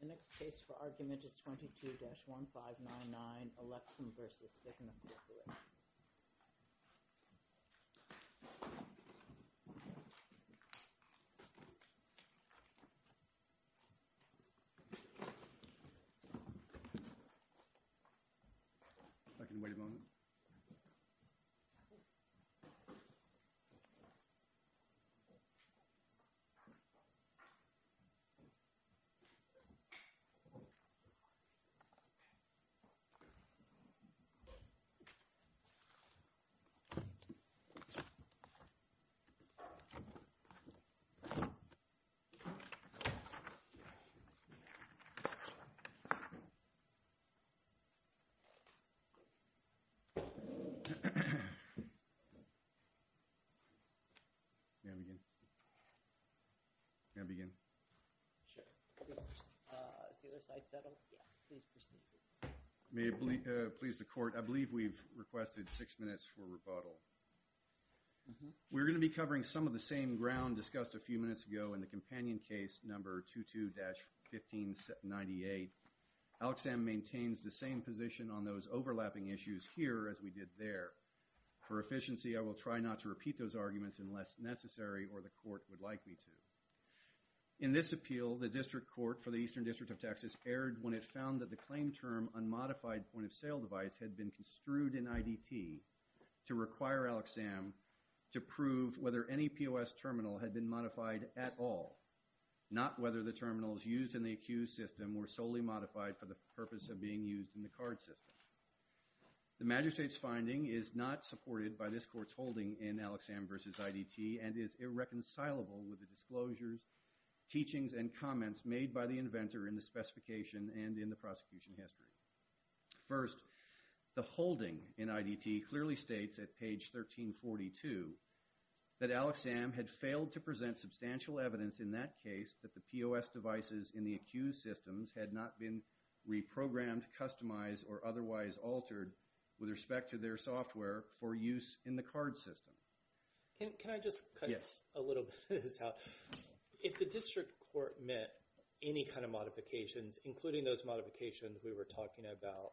The next case for argument is 22-1599, Alexsam v. Cigna Corporation This case is 22-1599, Alexsam v. Cigna Corporation We're going to be covering some of the same ground discussed a few minutes ago in the companion case number 22-1598. Alexsam maintains the same position on those overlapping issues here as we did there. For efficiency, I will try not to repeat those arguments unless necessary or the court would like me to. In this appeal, the District Court for the Eastern District of Texas erred when it found that the claim term unmodified point-of-sale device had been construed in IDT to require Alexsam to prove whether any POS terminal had been modified at all, not whether the terminals used in the accused system were solely modified for the purpose of being used in the card system. The magistrate's finding is not supported by this court's holding in Alexsam v. IDT and is irreconcilable with the disclosures, teachings, and comments made by the inventor in the specification and in the prosecution history. First, the holding in IDT clearly states at page 1342 that Alexsam had failed to present substantial evidence in that case that the POS devices in the accused systems had not been reprogrammed, customized, or otherwise altered with respect to their software for use in the card system. Can I just cut a little bit of this out? If the District Court met any kind of modifications, including those modifications we were talking about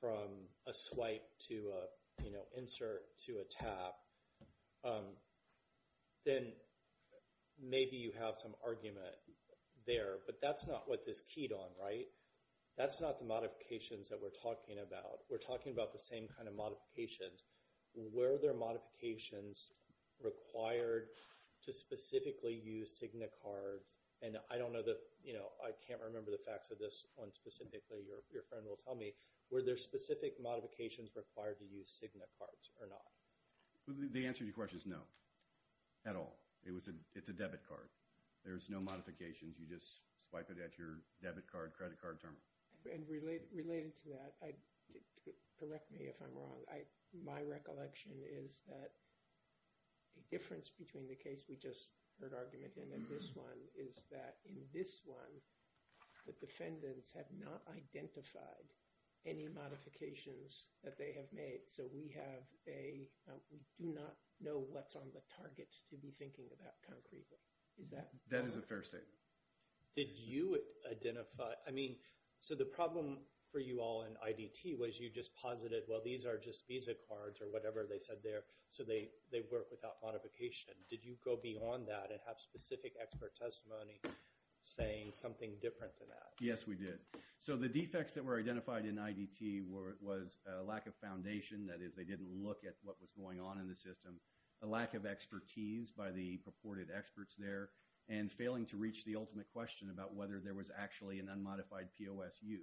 from a swipe to an insert to a tap, then maybe you have some argument there, but that's not what this keyed on, right? That's not the modifications that we're talking about. We're talking about the same kind of modifications. Were there modifications required to specifically use Cigna cards? And I can't remember the facts of this one specifically. Your friend will tell me. Were there specific modifications required to use Cigna cards or not? The answer to your question is no, at all. It's a debit card. There's no modifications. You just swipe it at your debit card, credit card term. And related to that, correct me if I'm wrong. My recollection is that a difference between the case we just heard argument in and this one is that in this one, the defendants have not identified any modifications that they have made, so we have a, we do not know what's on the target to be thinking about concretely. Is that correct? That is a fair statement. Did you identify, I mean, so the problem for you all in IDT was you just posited, well, these are just Visa cards or whatever they said there, so they work without modification. Did you go beyond that and have specific expert testimony saying something different than that? Yes, we did. So the defects that were identified in IDT was a lack of foundation, that is they didn't look at what was going on in the system, a lack of expertise by the purported experts there, and failing to reach the ultimate question about whether there was actually an unmodified POSU.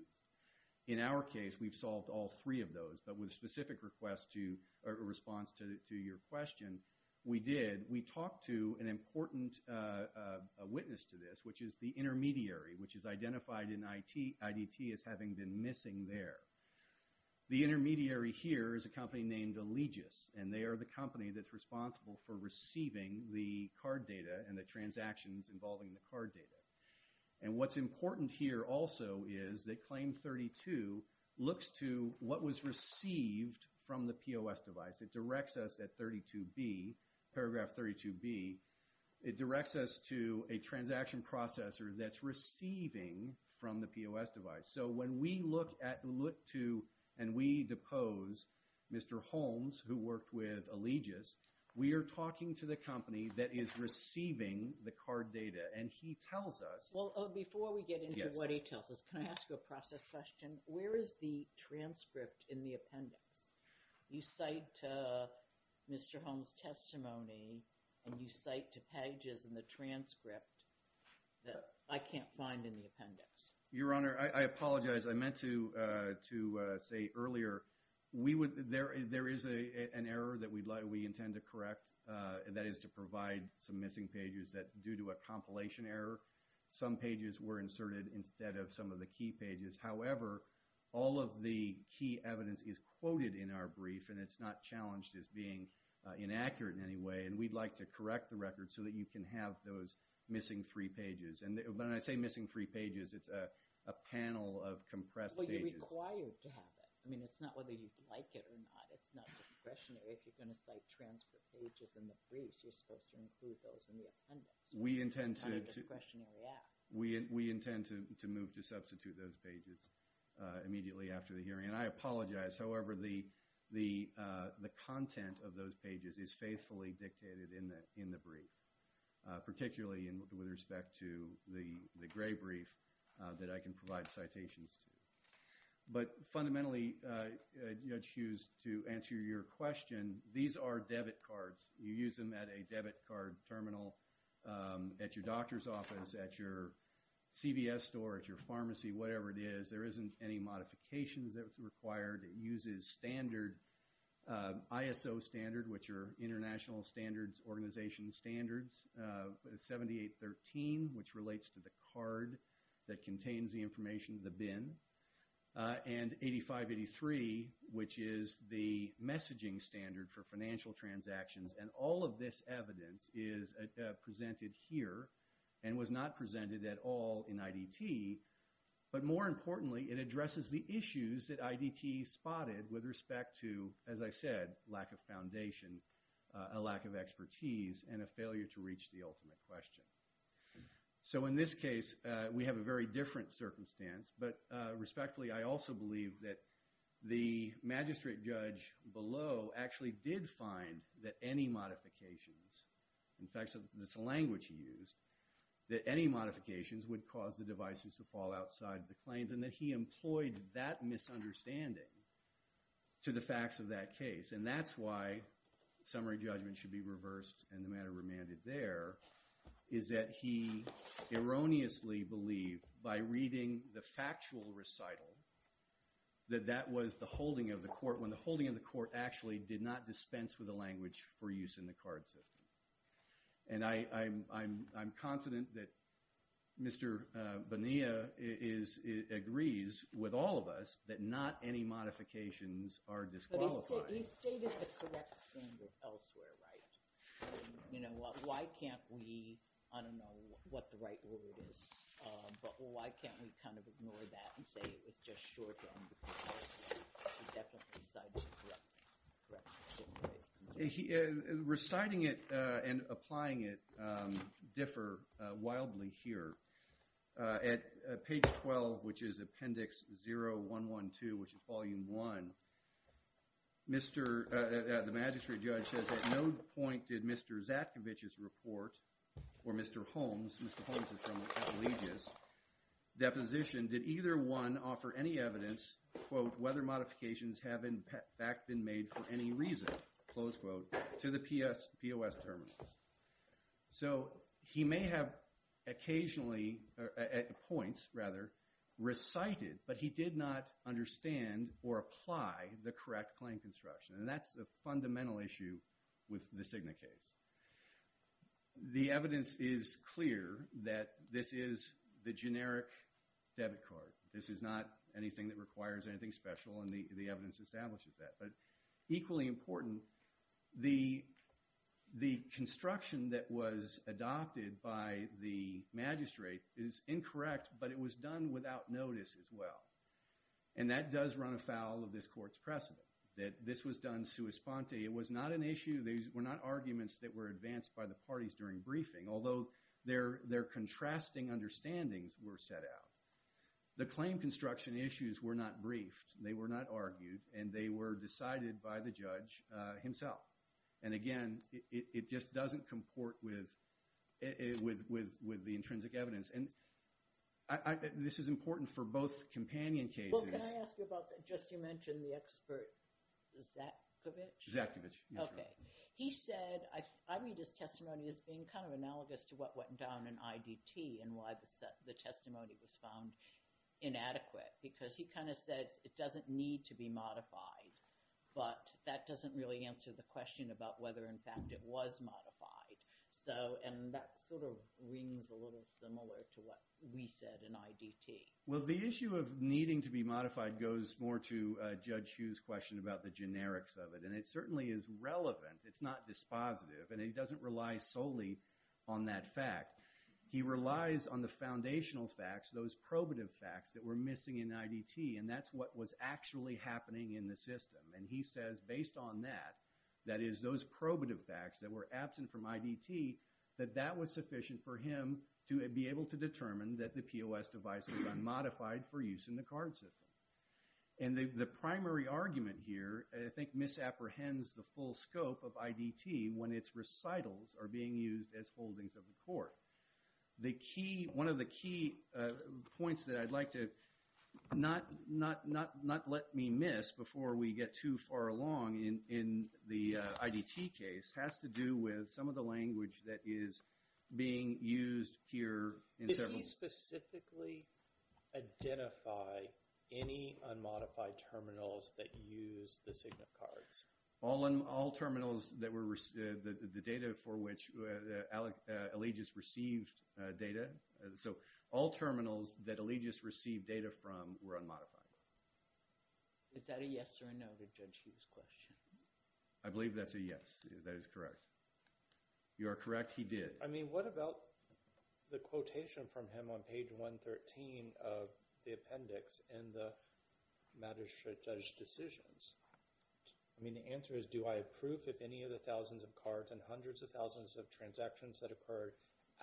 In our case, we've solved all three of those, but with a specific response to your question, we did. We talked to an important witness to this, which is the intermediary, which is identified in IDT as having been missing there. The intermediary here is a company named Allegis, and they are the company that's responsible for receiving the card data and the transactions involving the card data. And what's important here also is that Claim 32 looks to what was received from the POS device. It directs us at 32B, paragraph 32B. It directs us to a transaction processor that's receiving from the POS device. So when we look to and we depose Mr. Holmes, who worked with Allegis, we are talking to the company that is receiving the card data, and he tells us. Before we get into what he tells us, can I ask you a process question? Where is the transcript in the appendix? You cite Mr. Holmes' testimony, and you cite to pages in the transcript that I can't find in the appendix. Your Honor, I apologize. As I meant to say earlier, there is an error that we intend to correct, and that is to provide some missing pages that, due to a compilation error, some pages were inserted instead of some of the key pages. However, all of the key evidence is quoted in our brief, and it's not challenged as being inaccurate in any way, and we'd like to correct the record so that you can have those missing three pages. When I say missing three pages, it's a panel of compressed pages. Well, you're required to have it. I mean, it's not whether you'd like it or not. It's not discretionary. If you're going to cite transfer pages in the briefs, you're supposed to include those in the appendix. We intend to move to substitute those pages immediately after the hearing, and I apologize. However, the content of those pages is faithfully dictated in the brief, particularly with respect to the gray brief that I can provide citations to. But fundamentally, Judge Hughes, to answer your question, these are debit cards. You use them at a debit card terminal, at your doctor's office, at your CVS store, at your pharmacy, whatever it is. There isn't any modifications that's required. It uses standard ISO standard, which are international standards, organization standards, 7813, which relates to the card that contains the information, the BIN, and 8583, which is the messaging standard for financial transactions. And all of this evidence is presented here and was not presented at all in IDT. But more importantly, it addresses the issues that IDT spotted with respect to, as I said, lack of foundation, a lack of expertise, and a failure to reach the ultimate question. So in this case, we have a very different circumstance. But respectfully, I also believe that the magistrate judge below actually did find that any modifications, in fact, that's the language he used, that any modifications would cause the devices to fall outside the claims and that he employed that misunderstanding to the facts of that case. And that's why summary judgment should be reversed and the matter remanded there, is that he erroneously believed by reading the factual recital that that was the holding of the court when the holding of the court actually did not dispense with the language for use in the card system. And I'm confident that Mr. Bonilla agrees with all of us that not any modifications are disqualifying. But he stated the correct standard elsewhere, right? You know, why can't we, I don't know what the right word is, but why can't we kind of ignore that and say it was just short term? He definitely recited the correct standard. Reciting it and applying it differ wildly here. At page 12, which is Appendix 0112, which is Volume 1, the magistrate judge says, at no point did Mr. Zatkovich's report or Mr. Holmes, Mr. Holmes is from the Appellegis, deposition, did either one offer any evidence, quote, whether modifications have in fact been made for any reason, close quote, to the POS terminals. So he may have occasionally, at points rather, recited, but he did not understand or apply the correct claim construction. And that's a fundamental issue with the Cigna case. The evidence is clear that this is the generic debit card. This is not anything that requires anything special, and the evidence establishes that. But equally important, the construction that was adopted by the magistrate is incorrect, but it was done without notice as well. And that does run afoul of this court's precedent, that this was done sua sponte. It was not an issue. These were not arguments that were advanced by the parties during briefing, although their contrasting understandings were set out. The claim construction issues were not briefed. They were not argued, and they were decided by the judge himself. And again, it just doesn't comport with the intrinsic evidence. And this is important for both companion cases. Can I ask you about just you mentioned the expert Zakovich? Zakovich. Okay. He said – I read his testimony as being kind of analogous to what went down in IDT and why the testimony was found inadequate because he kind of said it doesn't need to be modified, but that doesn't really answer the question about whether, in fact, it was modified. And that sort of rings a little similar to what we said in IDT. Well, the issue of needing to be modified goes more to Judge Hughes' question about the generics of it, and it certainly is relevant. It's not dispositive, and he doesn't rely solely on that fact. He relies on the foundational facts, those probative facts that were missing in IDT, and that's what was actually happening in the system. And he says based on that, that is, those probative facts that were absent from IDT, that that was sufficient for him to be able to determine that the POS device was unmodified for use in the card system. And the primary argument here I think misapprehends the full scope of IDT when its recitals are being used as holdings of the court. One of the key points that I'd like to not let me miss before we get too far along in the IDT case has to do with some of the language that is being used here in several— Did he specifically identify any unmodified terminals that use the Cigna cards? All terminals that were—the data for which Allegius received data. So all terminals that Allegius received data from were unmodified. Is that a yes or a no to Judge Hughes' question? I believe that's a yes. That is correct. You are correct. He did. I mean, what about the quotation from him on page 113 of the appendix in the matter should judge decisions? I mean, the answer is do I approve if any of the thousands of cards and hundreds of thousands of transactions that occurred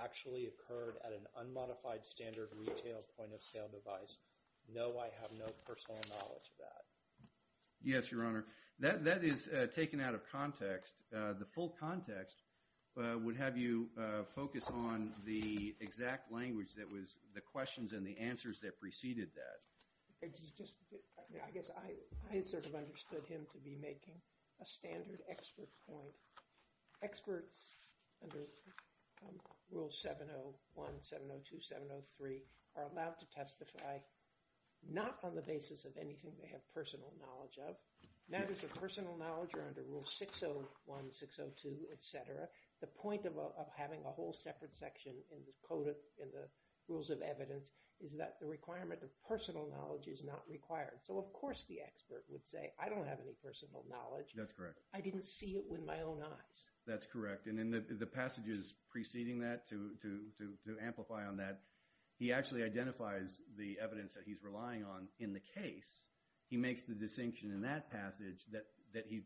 actually occurred at an unmodified standard retail point-of-sale device? No, I have no personal knowledge of that. Yes, Your Honor. That is taken out of context. The full context would have you focus on the exact language that was— the questions and the answers that preceded that. I guess I sort of understood him to be making a standard expert point. Experts under Rule 701, 702, 703 are allowed to testify not on the basis of anything they have personal knowledge of. Matters of personal knowledge are under Rule 601, 602, et cetera. The point of having a whole separate section in the Rules of Evidence is that the requirement of personal knowledge is not required. So of course the expert would say, I don't have any personal knowledge. That's correct. I didn't see it with my own eyes. That's correct. And in the passages preceding that to amplify on that, he actually identifies the evidence that he's relying on in the case. He makes the distinction in that passage that he—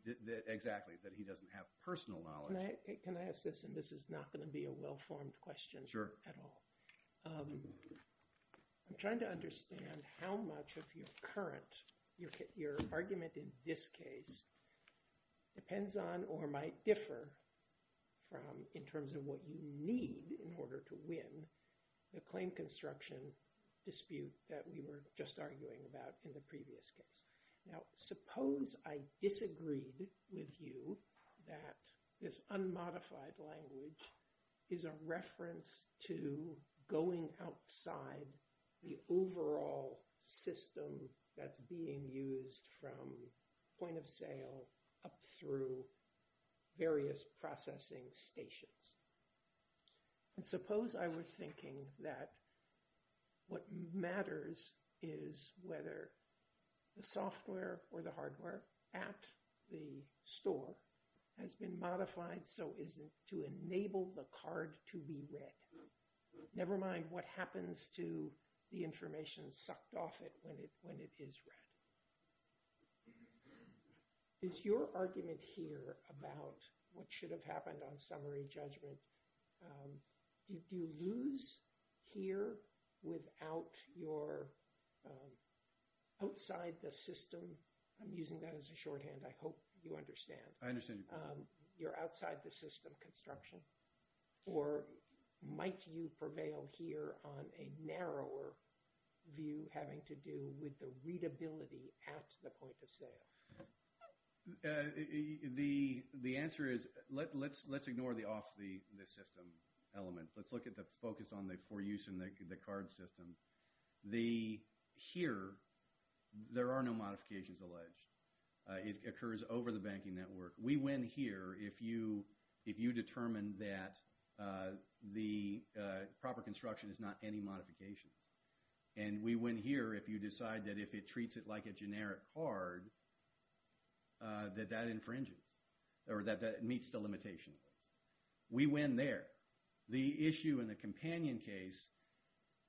exactly, that he doesn't have personal knowledge. Can I ask this? And this is not going to be a well-formed question at all. Sure. I'm trying to understand how much of your current— your argument in this case depends on or might differ from in terms of what you need in order to win the claim construction dispute that we were just arguing about in the previous case. Now suppose I disagreed with you that this unmodified language is a reference to going outside the overall system that's being used from point of sale up through various processing stations. And suppose I were thinking that what matters is whether the software or the hardware at the store has been modified so as to enable the card to be read. Never mind what happens to the information sucked off it when it is read. Is your argument here about what should have happened on summary judgment— do you lose here without your outside the system— I'm using that as a shorthand. I hope you understand. I understand your point. You're outside the system construction or might you prevail here on a narrower view having to do with the readability at the point of sale? The answer is let's ignore the off the system element. Let's look at the focus on the for use in the card system. Here there are no modifications alleged. It occurs over the banking network. We win here if you determine that the proper construction is not any modifications. And we win here if you decide that if it treats it like a generic card that that infringes or that meets the limitation. We win there. The issue in the companion case—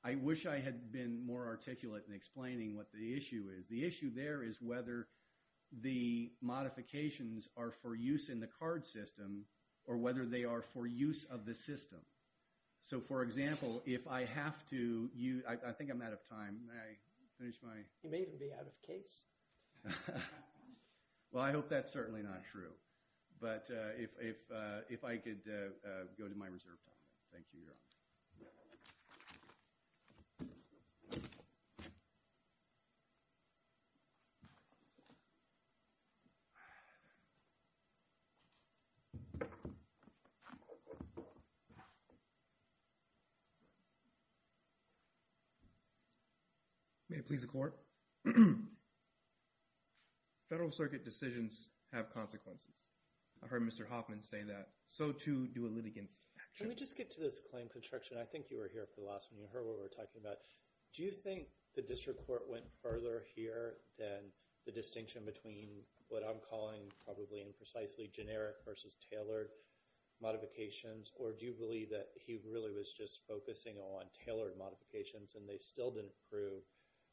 I wish I had been more articulate in explaining what the issue is. The issue there is whether the modifications are for use in the card system or whether they are for use of the system. So, for example, if I have to—I think I'm out of time. May I finish my— You may even be out of case. Well, I hope that's certainly not true. Thank you, Your Honor. Thank you. May it please the Court? Federal Circuit decisions have consequences. I heard Mr. Hoffman say that. So, too, do a litigant's actions. Let me just get to this claim construction. I think you were here for the last one. You heard what we were talking about. Do you think the district court went further here than the distinction between what I'm calling probably imprecisely generic versus tailored modifications? Or do you believe that he really was just focusing on tailored modifications and they still didn't prove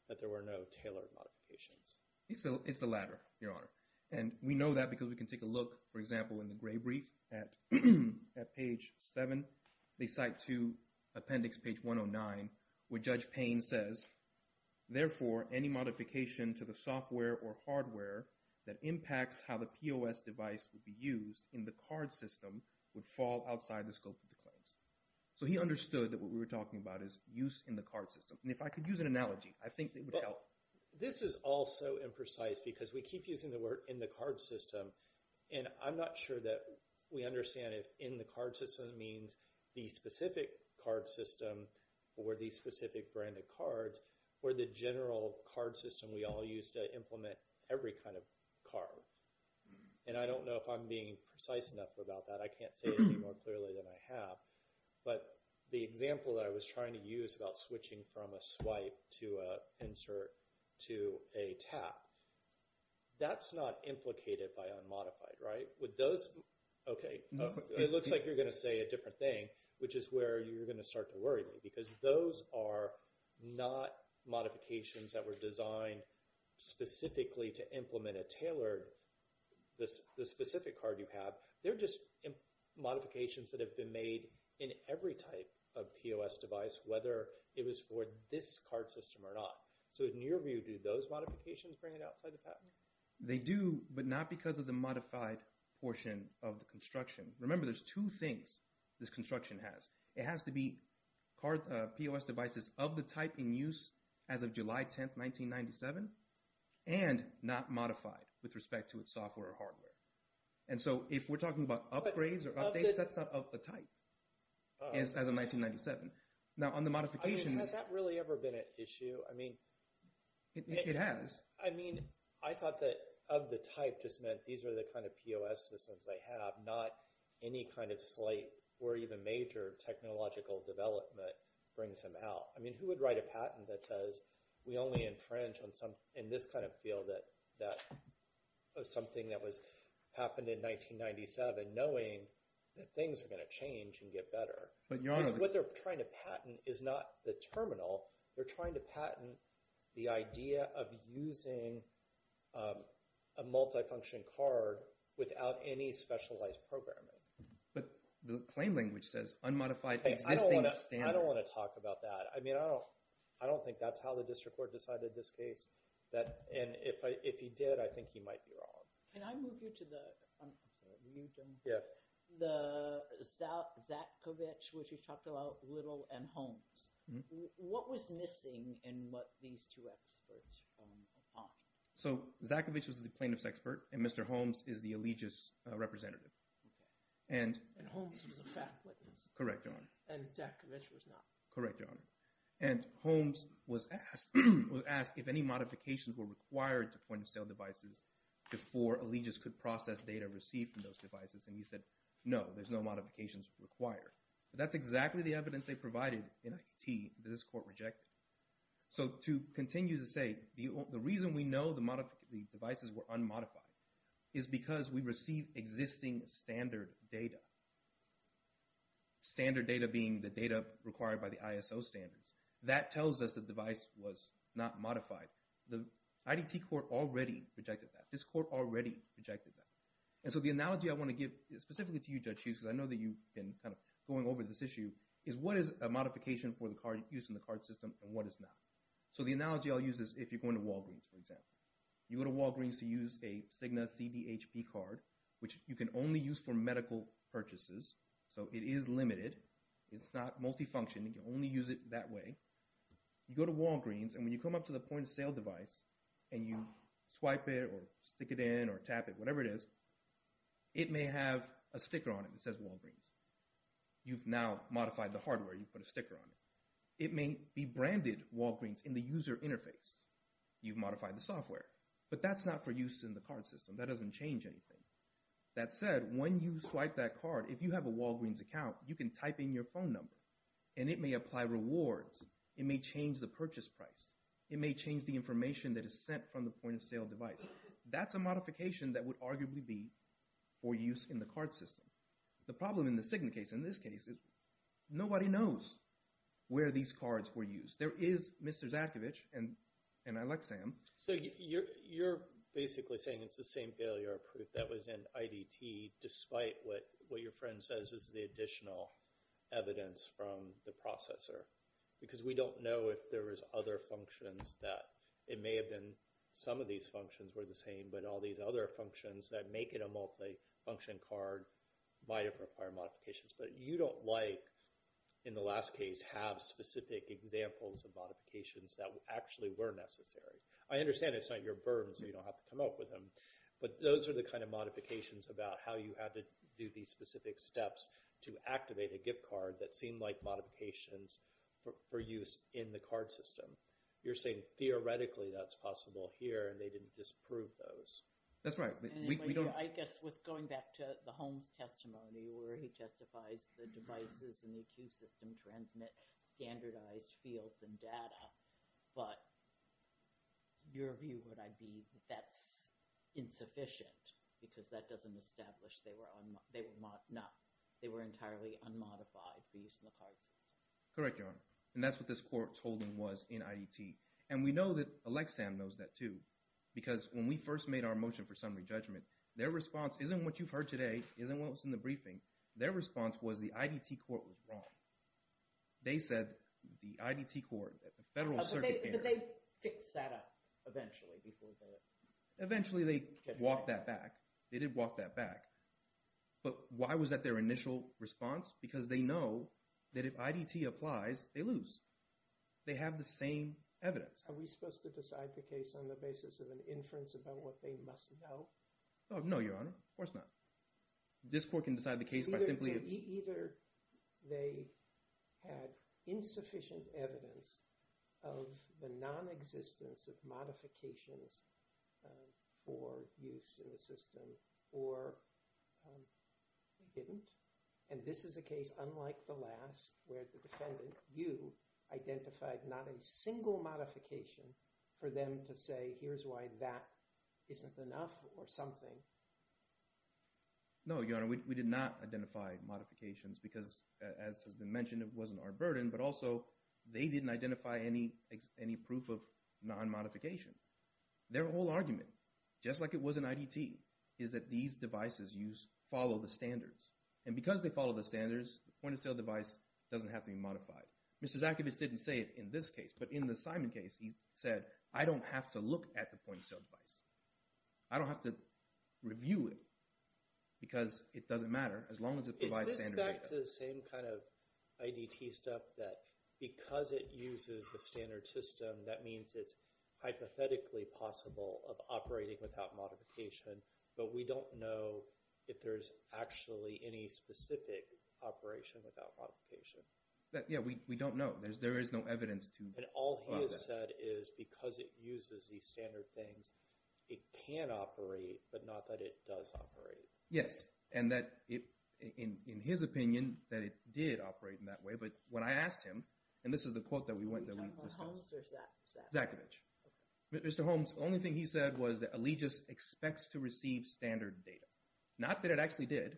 that there were no tailored modifications? It's the latter, Your Honor. And we know that because we can take a look, for example, in the gray brief at page 7. They cite to appendix page 109 where Judge Payne says, therefore, any modification to the software or hardware that impacts how the POS device would be used in the card system would fall outside the scope of the claims. So he understood that what we were talking about is use in the card system. And if I could use an analogy, I think it would help. This is all so imprecise because we keep using the word in the card system, and I'm not sure that we understand if in the card system means the specific card system or the specific brand of cards or the general card system we all use to implement every kind of card. And I don't know if I'm being precise enough about that. I can't say it any more clearly than I have. But the example that I was trying to use about switching from a swipe to an insert to a tap, that's not implicated by unmodified, right? With those, okay, it looks like you're going to say a different thing, which is where you're going to start to worry me because those are not modifications that were designed specifically to implement a tailored, the specific card you have. They're just modifications that have been made in every type of POS device, whether it was for this card system or not. So in your view, do those modifications bring it outside the pattern? They do, but not because of the modified portion of the construction. Remember, there's two things this construction has. It has to be POS devices of the type in use as of July 10, 1997, and not modified with respect to its software or hardware. And so if we're talking about upgrades or updates, that's not of the type as of 1997. Has that really ever been an issue? It has. I mean, I thought that of the type just meant these are the kind of POS systems they have, not any kind of slight or even major technological development brings them out. I mean, who would write a patent that says we only infringe in this kind of field that something that happened in 1997 knowing that things are going to change and get better? Because what they're trying to patent is not the terminal. They're trying to patent the idea of using a multifunction card without any specialized programming. But the claim language says unmodified existing standard. I don't want to talk about that. I mean, I don't think that's how the district court decided this case. And if he did, I think he might be wrong. Can I move you to the – I'm sorry, you, Jim? Yes. The Zakovich, which you talked about a little, and Holmes. What was missing in what these two experts are talking about? So Zakovich was the plaintiff's expert, and Mr. Holmes is the allegiance representative. And Holmes was a fact witness. Correct, Your Honor. And Zakovich was not. Correct, Your Honor. And Holmes was asked if any modifications were required to point-of-sale devices before allegiance could process data received from those devices. And he said, no, there's no modifications required. But that's exactly the evidence they provided in IDT that this court rejected. So to continue to say the reason we know the devices were unmodified is because we receive existing standard data, standard data being the data required by the ISO standards. That tells us the device was not modified. The IDT court already rejected that. This court already rejected that. And so the analogy I want to give specifically to you, Judge Hughes, because I know that you've been kind of going over this issue, is what is a modification for the use in the card system and what is not? So the analogy I'll use is if you're going to Walgreens, for example. You go to Walgreens to use a Cigna CDHP card, which you can only use for medical purchases. So it is limited. It's not multifunction. You can only use it that way. You go to Walgreens, and when you come up to the point-of-sale device and you swipe it or stick it in or tap it, whatever it is, it may have a sticker on it that says Walgreens. You've now modified the hardware. You've put a sticker on it. It may be branded Walgreens in the user interface. You've modified the software. But that's not for use in the card system. That doesn't change anything. That said, when you swipe that card, if you have a Walgreens account, you can type in your phone number, and it may apply rewards. It may change the purchase price. It may change the information that is sent from the point-of-sale device. That's a modification that would arguably be for use in the card system. The problem in the Cigna case, in this case, is nobody knows where these cards were used. There is Mr. Zatkovich, and I like Sam. So you're basically saying it's the same failure proof that was in IDT, despite what your friend says is the additional evidence from the processor, because we don't know if there is other functions that it may have been some of these functions were the same, but all these other functions that make it a multi-function card might have required modifications. But you don't like, in the last case, have specific examples of modifications that actually were necessary. I understand it's not your burden, so you don't have to come up with them, but those are the kind of modifications about how you had to do these specific steps to activate a gift card that seemed like modifications for use in the card system. You're saying theoretically that's possible here, and they didn't disprove those. That's right. I guess with going back to the Holmes testimony, where he testifies the devices in the IQ system transmit standardized fields and data, but your view would be that that's insufficient, because that doesn't establish they were entirely unmodified for use in the card system. Correct, Your Honor, and that's what this court told him was in IDT. And we know that Alexan knows that too, because when we first made our motion for summary judgment, their response isn't what you've heard today, isn't what was in the briefing. Their response was the IDT court was wrong. They said the IDT court, the Federal Circuit… But they fixed that up eventually before the… Eventually they walked that back. They did walk that back. But why was that their initial response? Because they know that if IDT applies, they lose. They have the same evidence. Are we supposed to decide the case on the basis of an inference about what they must know? No, Your Honor, of course not. This court can decide the case by simply… They had insufficient evidence of the nonexistence of modifications for use in the system, or they didn't. And this is a case unlike the last where the defendant, you, identified not a single modification for them to say here's why that isn't enough or something. No, Your Honor, we did not identify modifications because, as has been mentioned, it wasn't our burden. But also they didn't identify any proof of non-modification. Their whole argument, just like it was in IDT, is that these devices follow the standards. And because they follow the standards, the point-of-sale device doesn't have to be modified. Mr. Zakibitz didn't say it in this case, but in the Simon case he said, I don't have to look at the point-of-sale device. I don't have to review it because it doesn't matter as long as it provides standard data. Is this back to the same kind of IDT stuff that because it uses the standard system, that means it's hypothetically possible of operating without modification, but we don't know if there's actually any specific operation without modification? Yeah, we don't know. There is no evidence to… And all he has said is because it uses these standard things, it can operate, but not that it does operate. Yes, and that, in his opinion, that it did operate in that way. But when I asked him, and this is the quote that we discussed. Are you talking about Holmes or Zakibitz? Zakibitz. Okay. Mr. Holmes, the only thing he said was that Allegis expects to receive standard data. Not that it actually did.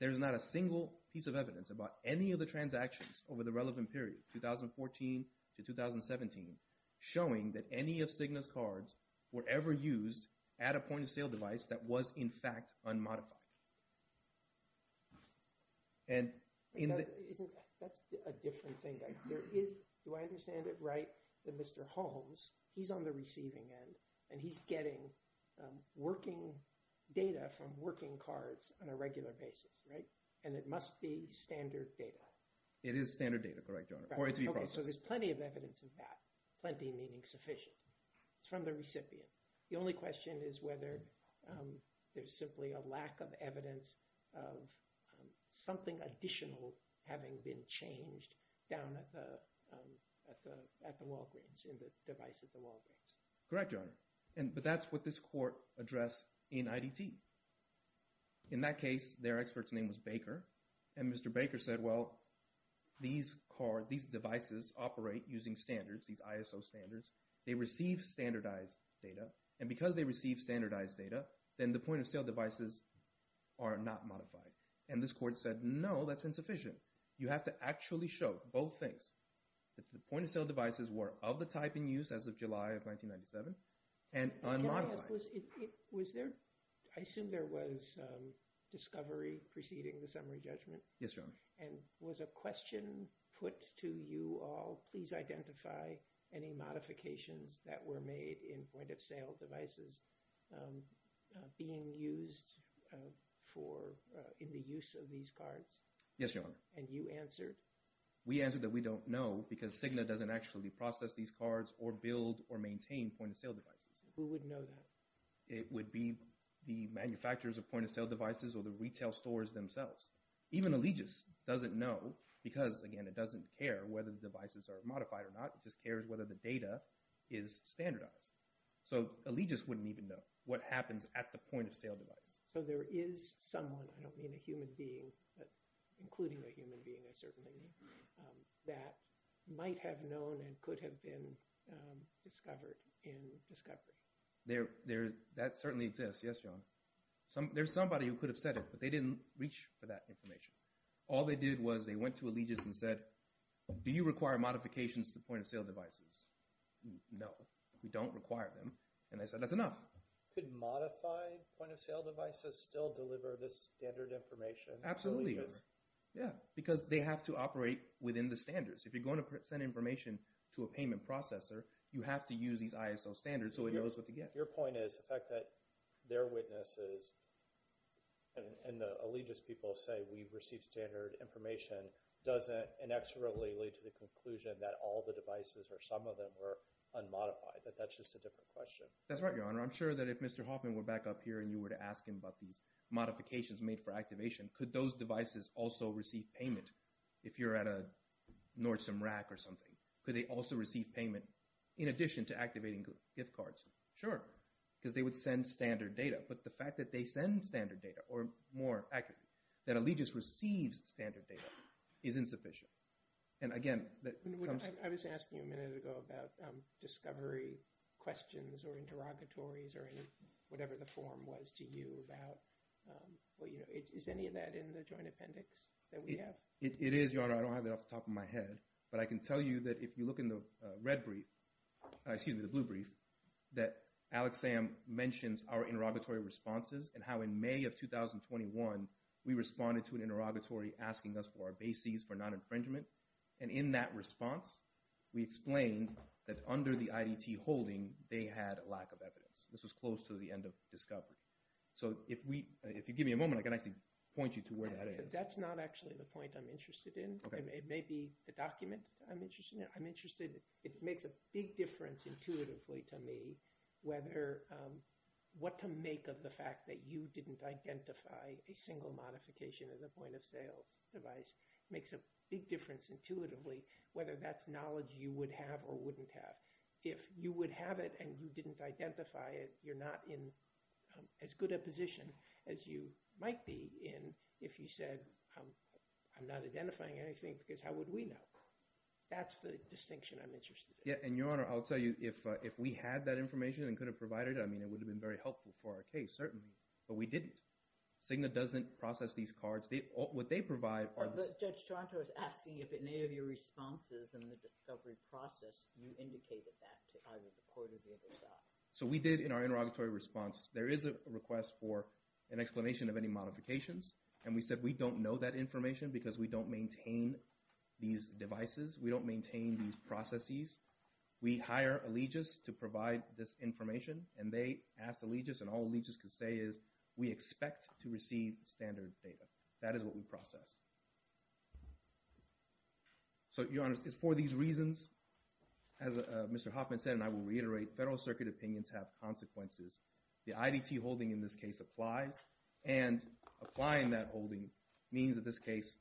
There is not a single piece of evidence about any of the transactions over the relevant period, 2014 to 2017, showing that any of Cigna's cards were ever used at a point-of-sale device that was, in fact, unmodified. That's a different thing. Do I understand it right that Mr. Holmes, he's on the receiving end, and he's getting working data from working cards on a regular basis, right? And it must be standard data. It is standard data, correct, Your Honor. Okay, so there's plenty of evidence of that. Plenty meaning sufficient. It's from the recipient. The only question is whether there's simply a lack of evidence of something additional having been changed down at the Walgreens, in the device at the Walgreens. Correct, Your Honor. But that's what this court addressed in IDT. In that case, their expert's name was Baker. And Mr. Baker said, well, these devices operate using standards, these ISO standards. They receive standardized data. And because they receive standardized data, then the point-of-sale devices are not modified. And this court said, no, that's insufficient. You have to actually show both things, that the point-of-sale devices were of the type in use as of July of 1997 and unmodified. I assume there was discovery preceding the summary judgment. Yes, Your Honor. And was a question put to you all, please identify any modifications that were made in point-of-sale devices being used in the use of these cards? Yes, Your Honor. And you answered? We answered that we don't know because Cigna doesn't actually process these cards or build or maintain point-of-sale devices. Who would know that? It would be the manufacturers of point-of-sale devices or the retail stores themselves. Even Allegis doesn't know because, again, it doesn't care whether the devices are modified or not. It just cares whether the data is standardized. So Allegis wouldn't even know what happens at the point-of-sale device. So there is someone, I don't mean a human being, but including a human being I certainly mean, that might have known and could have been discovered in discovery. That certainly exists. Yes, Your Honor. There's somebody who could have said it, but they didn't reach for that information. All they did was they went to Allegis and said, do you require modifications to point-of-sale devices? No, we don't require them. And they said that's enough. Could modified point-of-sale devices still deliver this standard information? Absolutely. Yeah, because they have to operate within the standards. If you're going to send information to a payment processor, you have to use these ISO standards so it knows what to get. Your point is the fact that their witnesses and the Allegis people say we've received standard information doesn't inexorably lead to the conclusion that all the devices or some of them were unmodified, that that's just a different question. That's right, Your Honor. I'm sure that if Mr. Hoffman were back up here and you were to ask him about these modifications made for activation, could those devices also receive payment if you're at a Nordstrom rack or something? Could they also receive payment in addition to activating gift cards? Sure, because they would send standard data. But the fact that they send standard data, or more accurately, that Allegis receives standard data is insufficient. I was asking you a minute ago about discovery questions or interrogatories or whatever the form was to you about – is any of that in the joint appendix that we have? It is, Your Honor. I don't have it off the top of my head. But I can tell you that if you look in the red brief – excuse me, the blue brief – that Alex Sam mentions our interrogatory responses and how in May of 2021 we responded to an interrogatory asking us for our bases for non-infringement. And in that response, we explained that under the IDT holding, they had a lack of evidence. This was close to the end of discovery. So if you give me a moment, I can actually point you to where that is. That's not actually the point I'm interested in. It may be the document I'm interested in. I'm interested – it makes a big difference intuitively to me whether – what to make of the fact that you didn't identify a single modification of the point-of-sales device. It makes a big difference intuitively whether that's knowledge you would have or wouldn't have. If you would have it and you didn't identify it, you're not in as good a position as you might be in if you said, I'm not identifying anything because how would we know? That's the distinction I'm interested in. Yeah, and Your Honor, I'll tell you, if we had that information and could have provided it, I mean it would have been very helpful for our case, certainly. But we didn't. Cigna doesn't process these cards. What they provide – But Judge Toronto is asking if in any of your responses in the discovery process you indicated that to either the court or the other side. So we did in our interrogatory response. There is a request for an explanation of any modifications, and we said we don't know that information because we don't maintain these devices. We don't maintain these processes. We hire Allegis to provide this information, and they asked Allegis, and all Allegis could say is we expect to receive standard data. That is what we process. So, Your Honor, it's for these reasons, as Mr. Hoffman said, and I will reiterate, Federal Circuit opinions have consequences. The IDT holding in this case applies, and applying that holding means that this case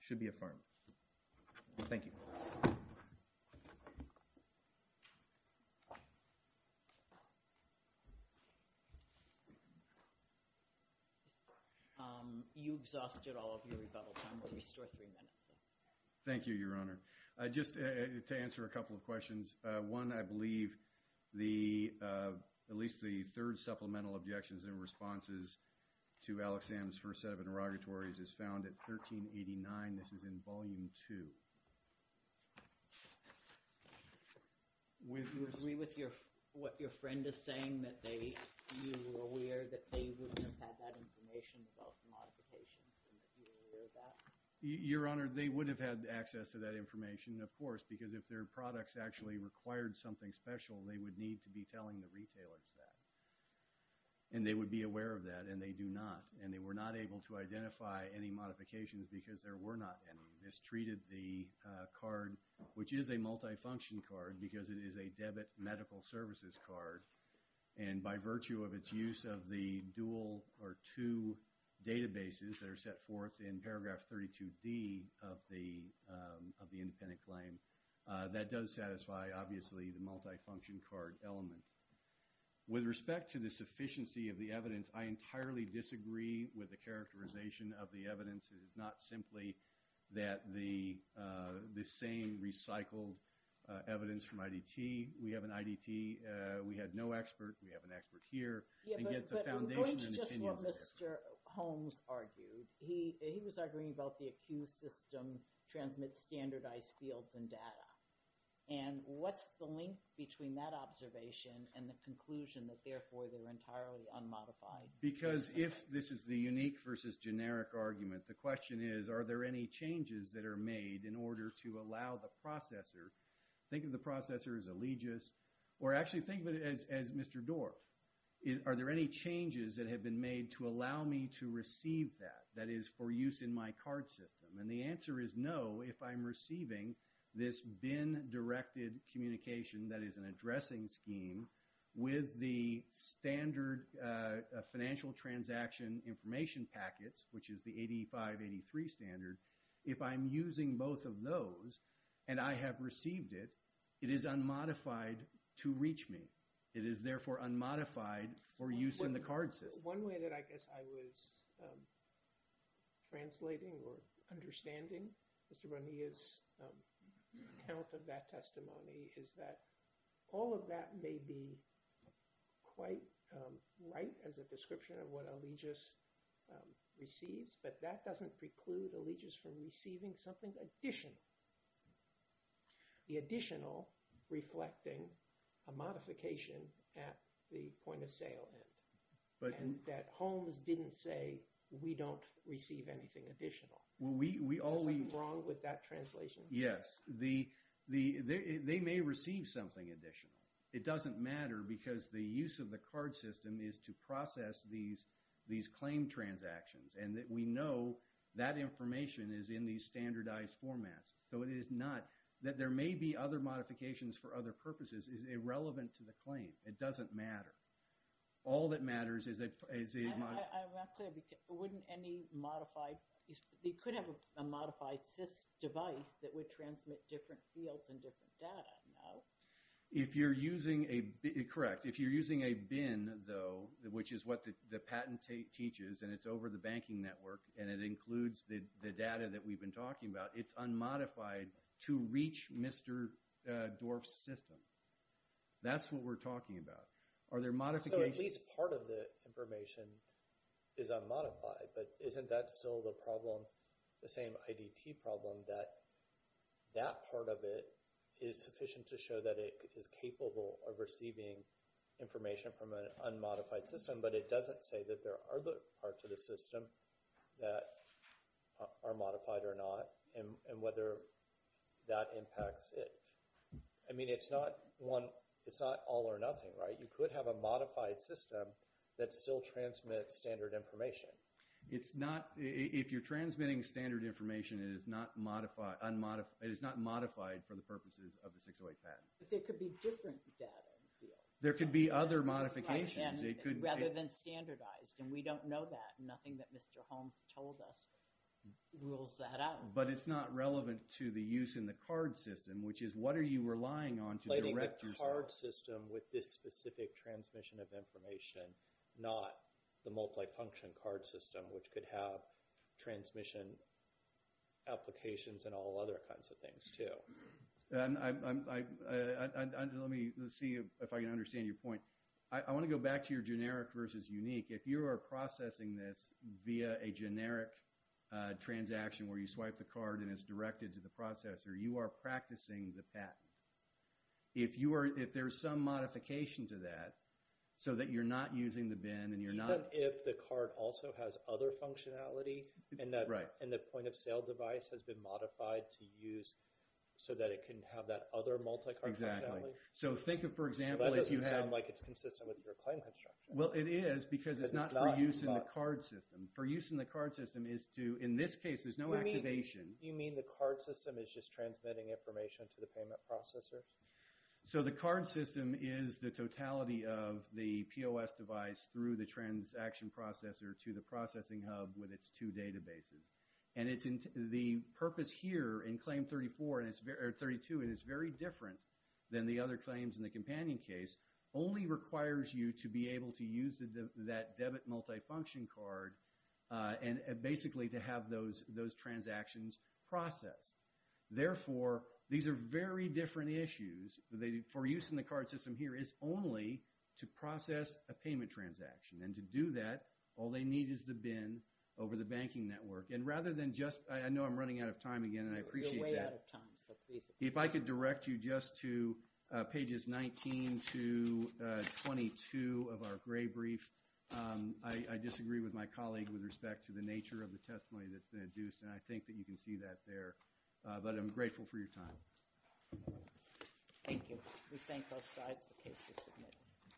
should be affirmed. Thank you. You exhausted all of your rebuttal time. We'll restore three minutes. Thank you, Your Honor. One, I believe the – at least the third supplemental objections and responses to Alexander's first set of interrogatories is found at 1389. This is in Volume 2. With what your friend is saying that they – you were aware that they would have had that information about the modifications and that you were aware of that? Your Honor, they would have had access to that information, of course, because if their products actually required something special, they would need to be telling the retailers that, and they would be aware of that, and they do not, and they were not able to identify any modifications because there were not any. This treated the card, which is a multifunction card because it is a debit medical services card, and by virtue of its use of the dual or two databases that are set forth in Paragraph 32D of the independent claim, that does satisfy, obviously, the multifunction card element. With respect to the sufficiency of the evidence, I entirely disagree with the characterization of the evidence. It is not simply that the same recycled evidence from IDT. We have an IDT. We had no expert. We have an expert here. Yeah, but I'm going to just what Mr. Holmes argued. He was arguing about the accused system transmits standardized fields and data, and what's the link between that observation and the conclusion that, therefore, they're entirely unmodified? Because if this is the unique versus generic argument, the question is, are there any changes that are made in order to allow the processor – think of the processor as allegiance or actually think of it as Mr. Dorff – are there any changes that have been made to allow me to receive that, that is, for use in my card system? And the answer is no if I'm receiving this BIN-directed communication, that is, an addressing scheme, with the standard financial transaction information packets, which is the 8583 standard. If I'm using both of those and I have received it, it is unmodified to reach me. It is, therefore, unmodified for use in the card system. One way that I guess I was translating or understanding Mr. Bonilla's account of that testimony is that all of that may be quite right as a description of what allegiance receives, but that doesn't preclude allegiance from receiving something additional. The additional reflecting a modification at the point-of-sale end. And that Holmes didn't say, we don't receive anything additional. Is there something wrong with that translation? Yes. They may receive something additional. It doesn't matter because the use of the card system is to process these claim transactions and that we know that information is in these standardized formats. So it is not that there may be other modifications for other purposes is irrelevant to the claim. It doesn't matter. All that matters is a... I'm not clear. Wouldn't any modified... They could have a modified SIS device that would transmit different fields and different data. No. If you're using a... Correct. Correct. If you're using a BIN, though, which is what the patent teaches, and it's over the banking network and it includes the data that we've been talking about, it's unmodified to reach Mr. Dorff's system. That's what we're talking about. Are there modifications... So at least part of the information is unmodified, but isn't that still the problem, the same IDT problem, that that part of it is sufficient to show that it is capable of receiving information from an unmodified system, but it doesn't say that there are other parts of the system that are modified or not and whether that impacts it. I mean, it's not all or nothing, right? You could have a modified system that still transmits standard information. If you're transmitting standard information, it is not modified for the purposes of the 608 patent. But there could be different data in the field. There could be other modifications. Rather than standardized, and we don't know that. Nothing that Mr. Holmes told us rules that out. But it's not relevant to the use in the card system, which is what are you relying on to direct yourself... with this specific transmission of information, not the multifunction card system, which could have transmission applications and all other kinds of things too. Let me see if I can understand your point. I want to go back to your generic versus unique. If you are processing this via a generic transaction where you swipe the card and it's directed to the processor, you are practicing the patent. If there's some modification to that so that you're not using the BIN and you're not... Even if the card also has other functionality and the point-of-sale device has been modified to use so that it can have that other multi-card functionality? Exactly. So think of, for example, if you had... That doesn't sound like it's consistent with your claim construction. Well, it is because it's not for use in the card system. For use in the card system is to, in this case, there's no activation. You mean the card system is just transmitting information to the payment processor? So the card system is the totality of the POS device through the transaction processor to the processing hub with its two databases. And the purpose here in Claim 32, and it's very different than the other claims in the companion case, only requires you to be able to use that debit multifunction card and basically to have those transactions processed. Therefore, these are very different issues. For use in the card system here is only to process a payment transaction. And to do that, all they need is the BIN over the banking network. And rather than just... I know I'm running out of time again, and I appreciate that. You're way out of time, so please... If I could direct you just to pages 19 to 22 of our gray brief. I disagree with my colleague with respect to the nature of the testimony that's been induced, and I think that you can see that there. But I'm grateful for your time. Thank you. We thank both sides. The case is submitted.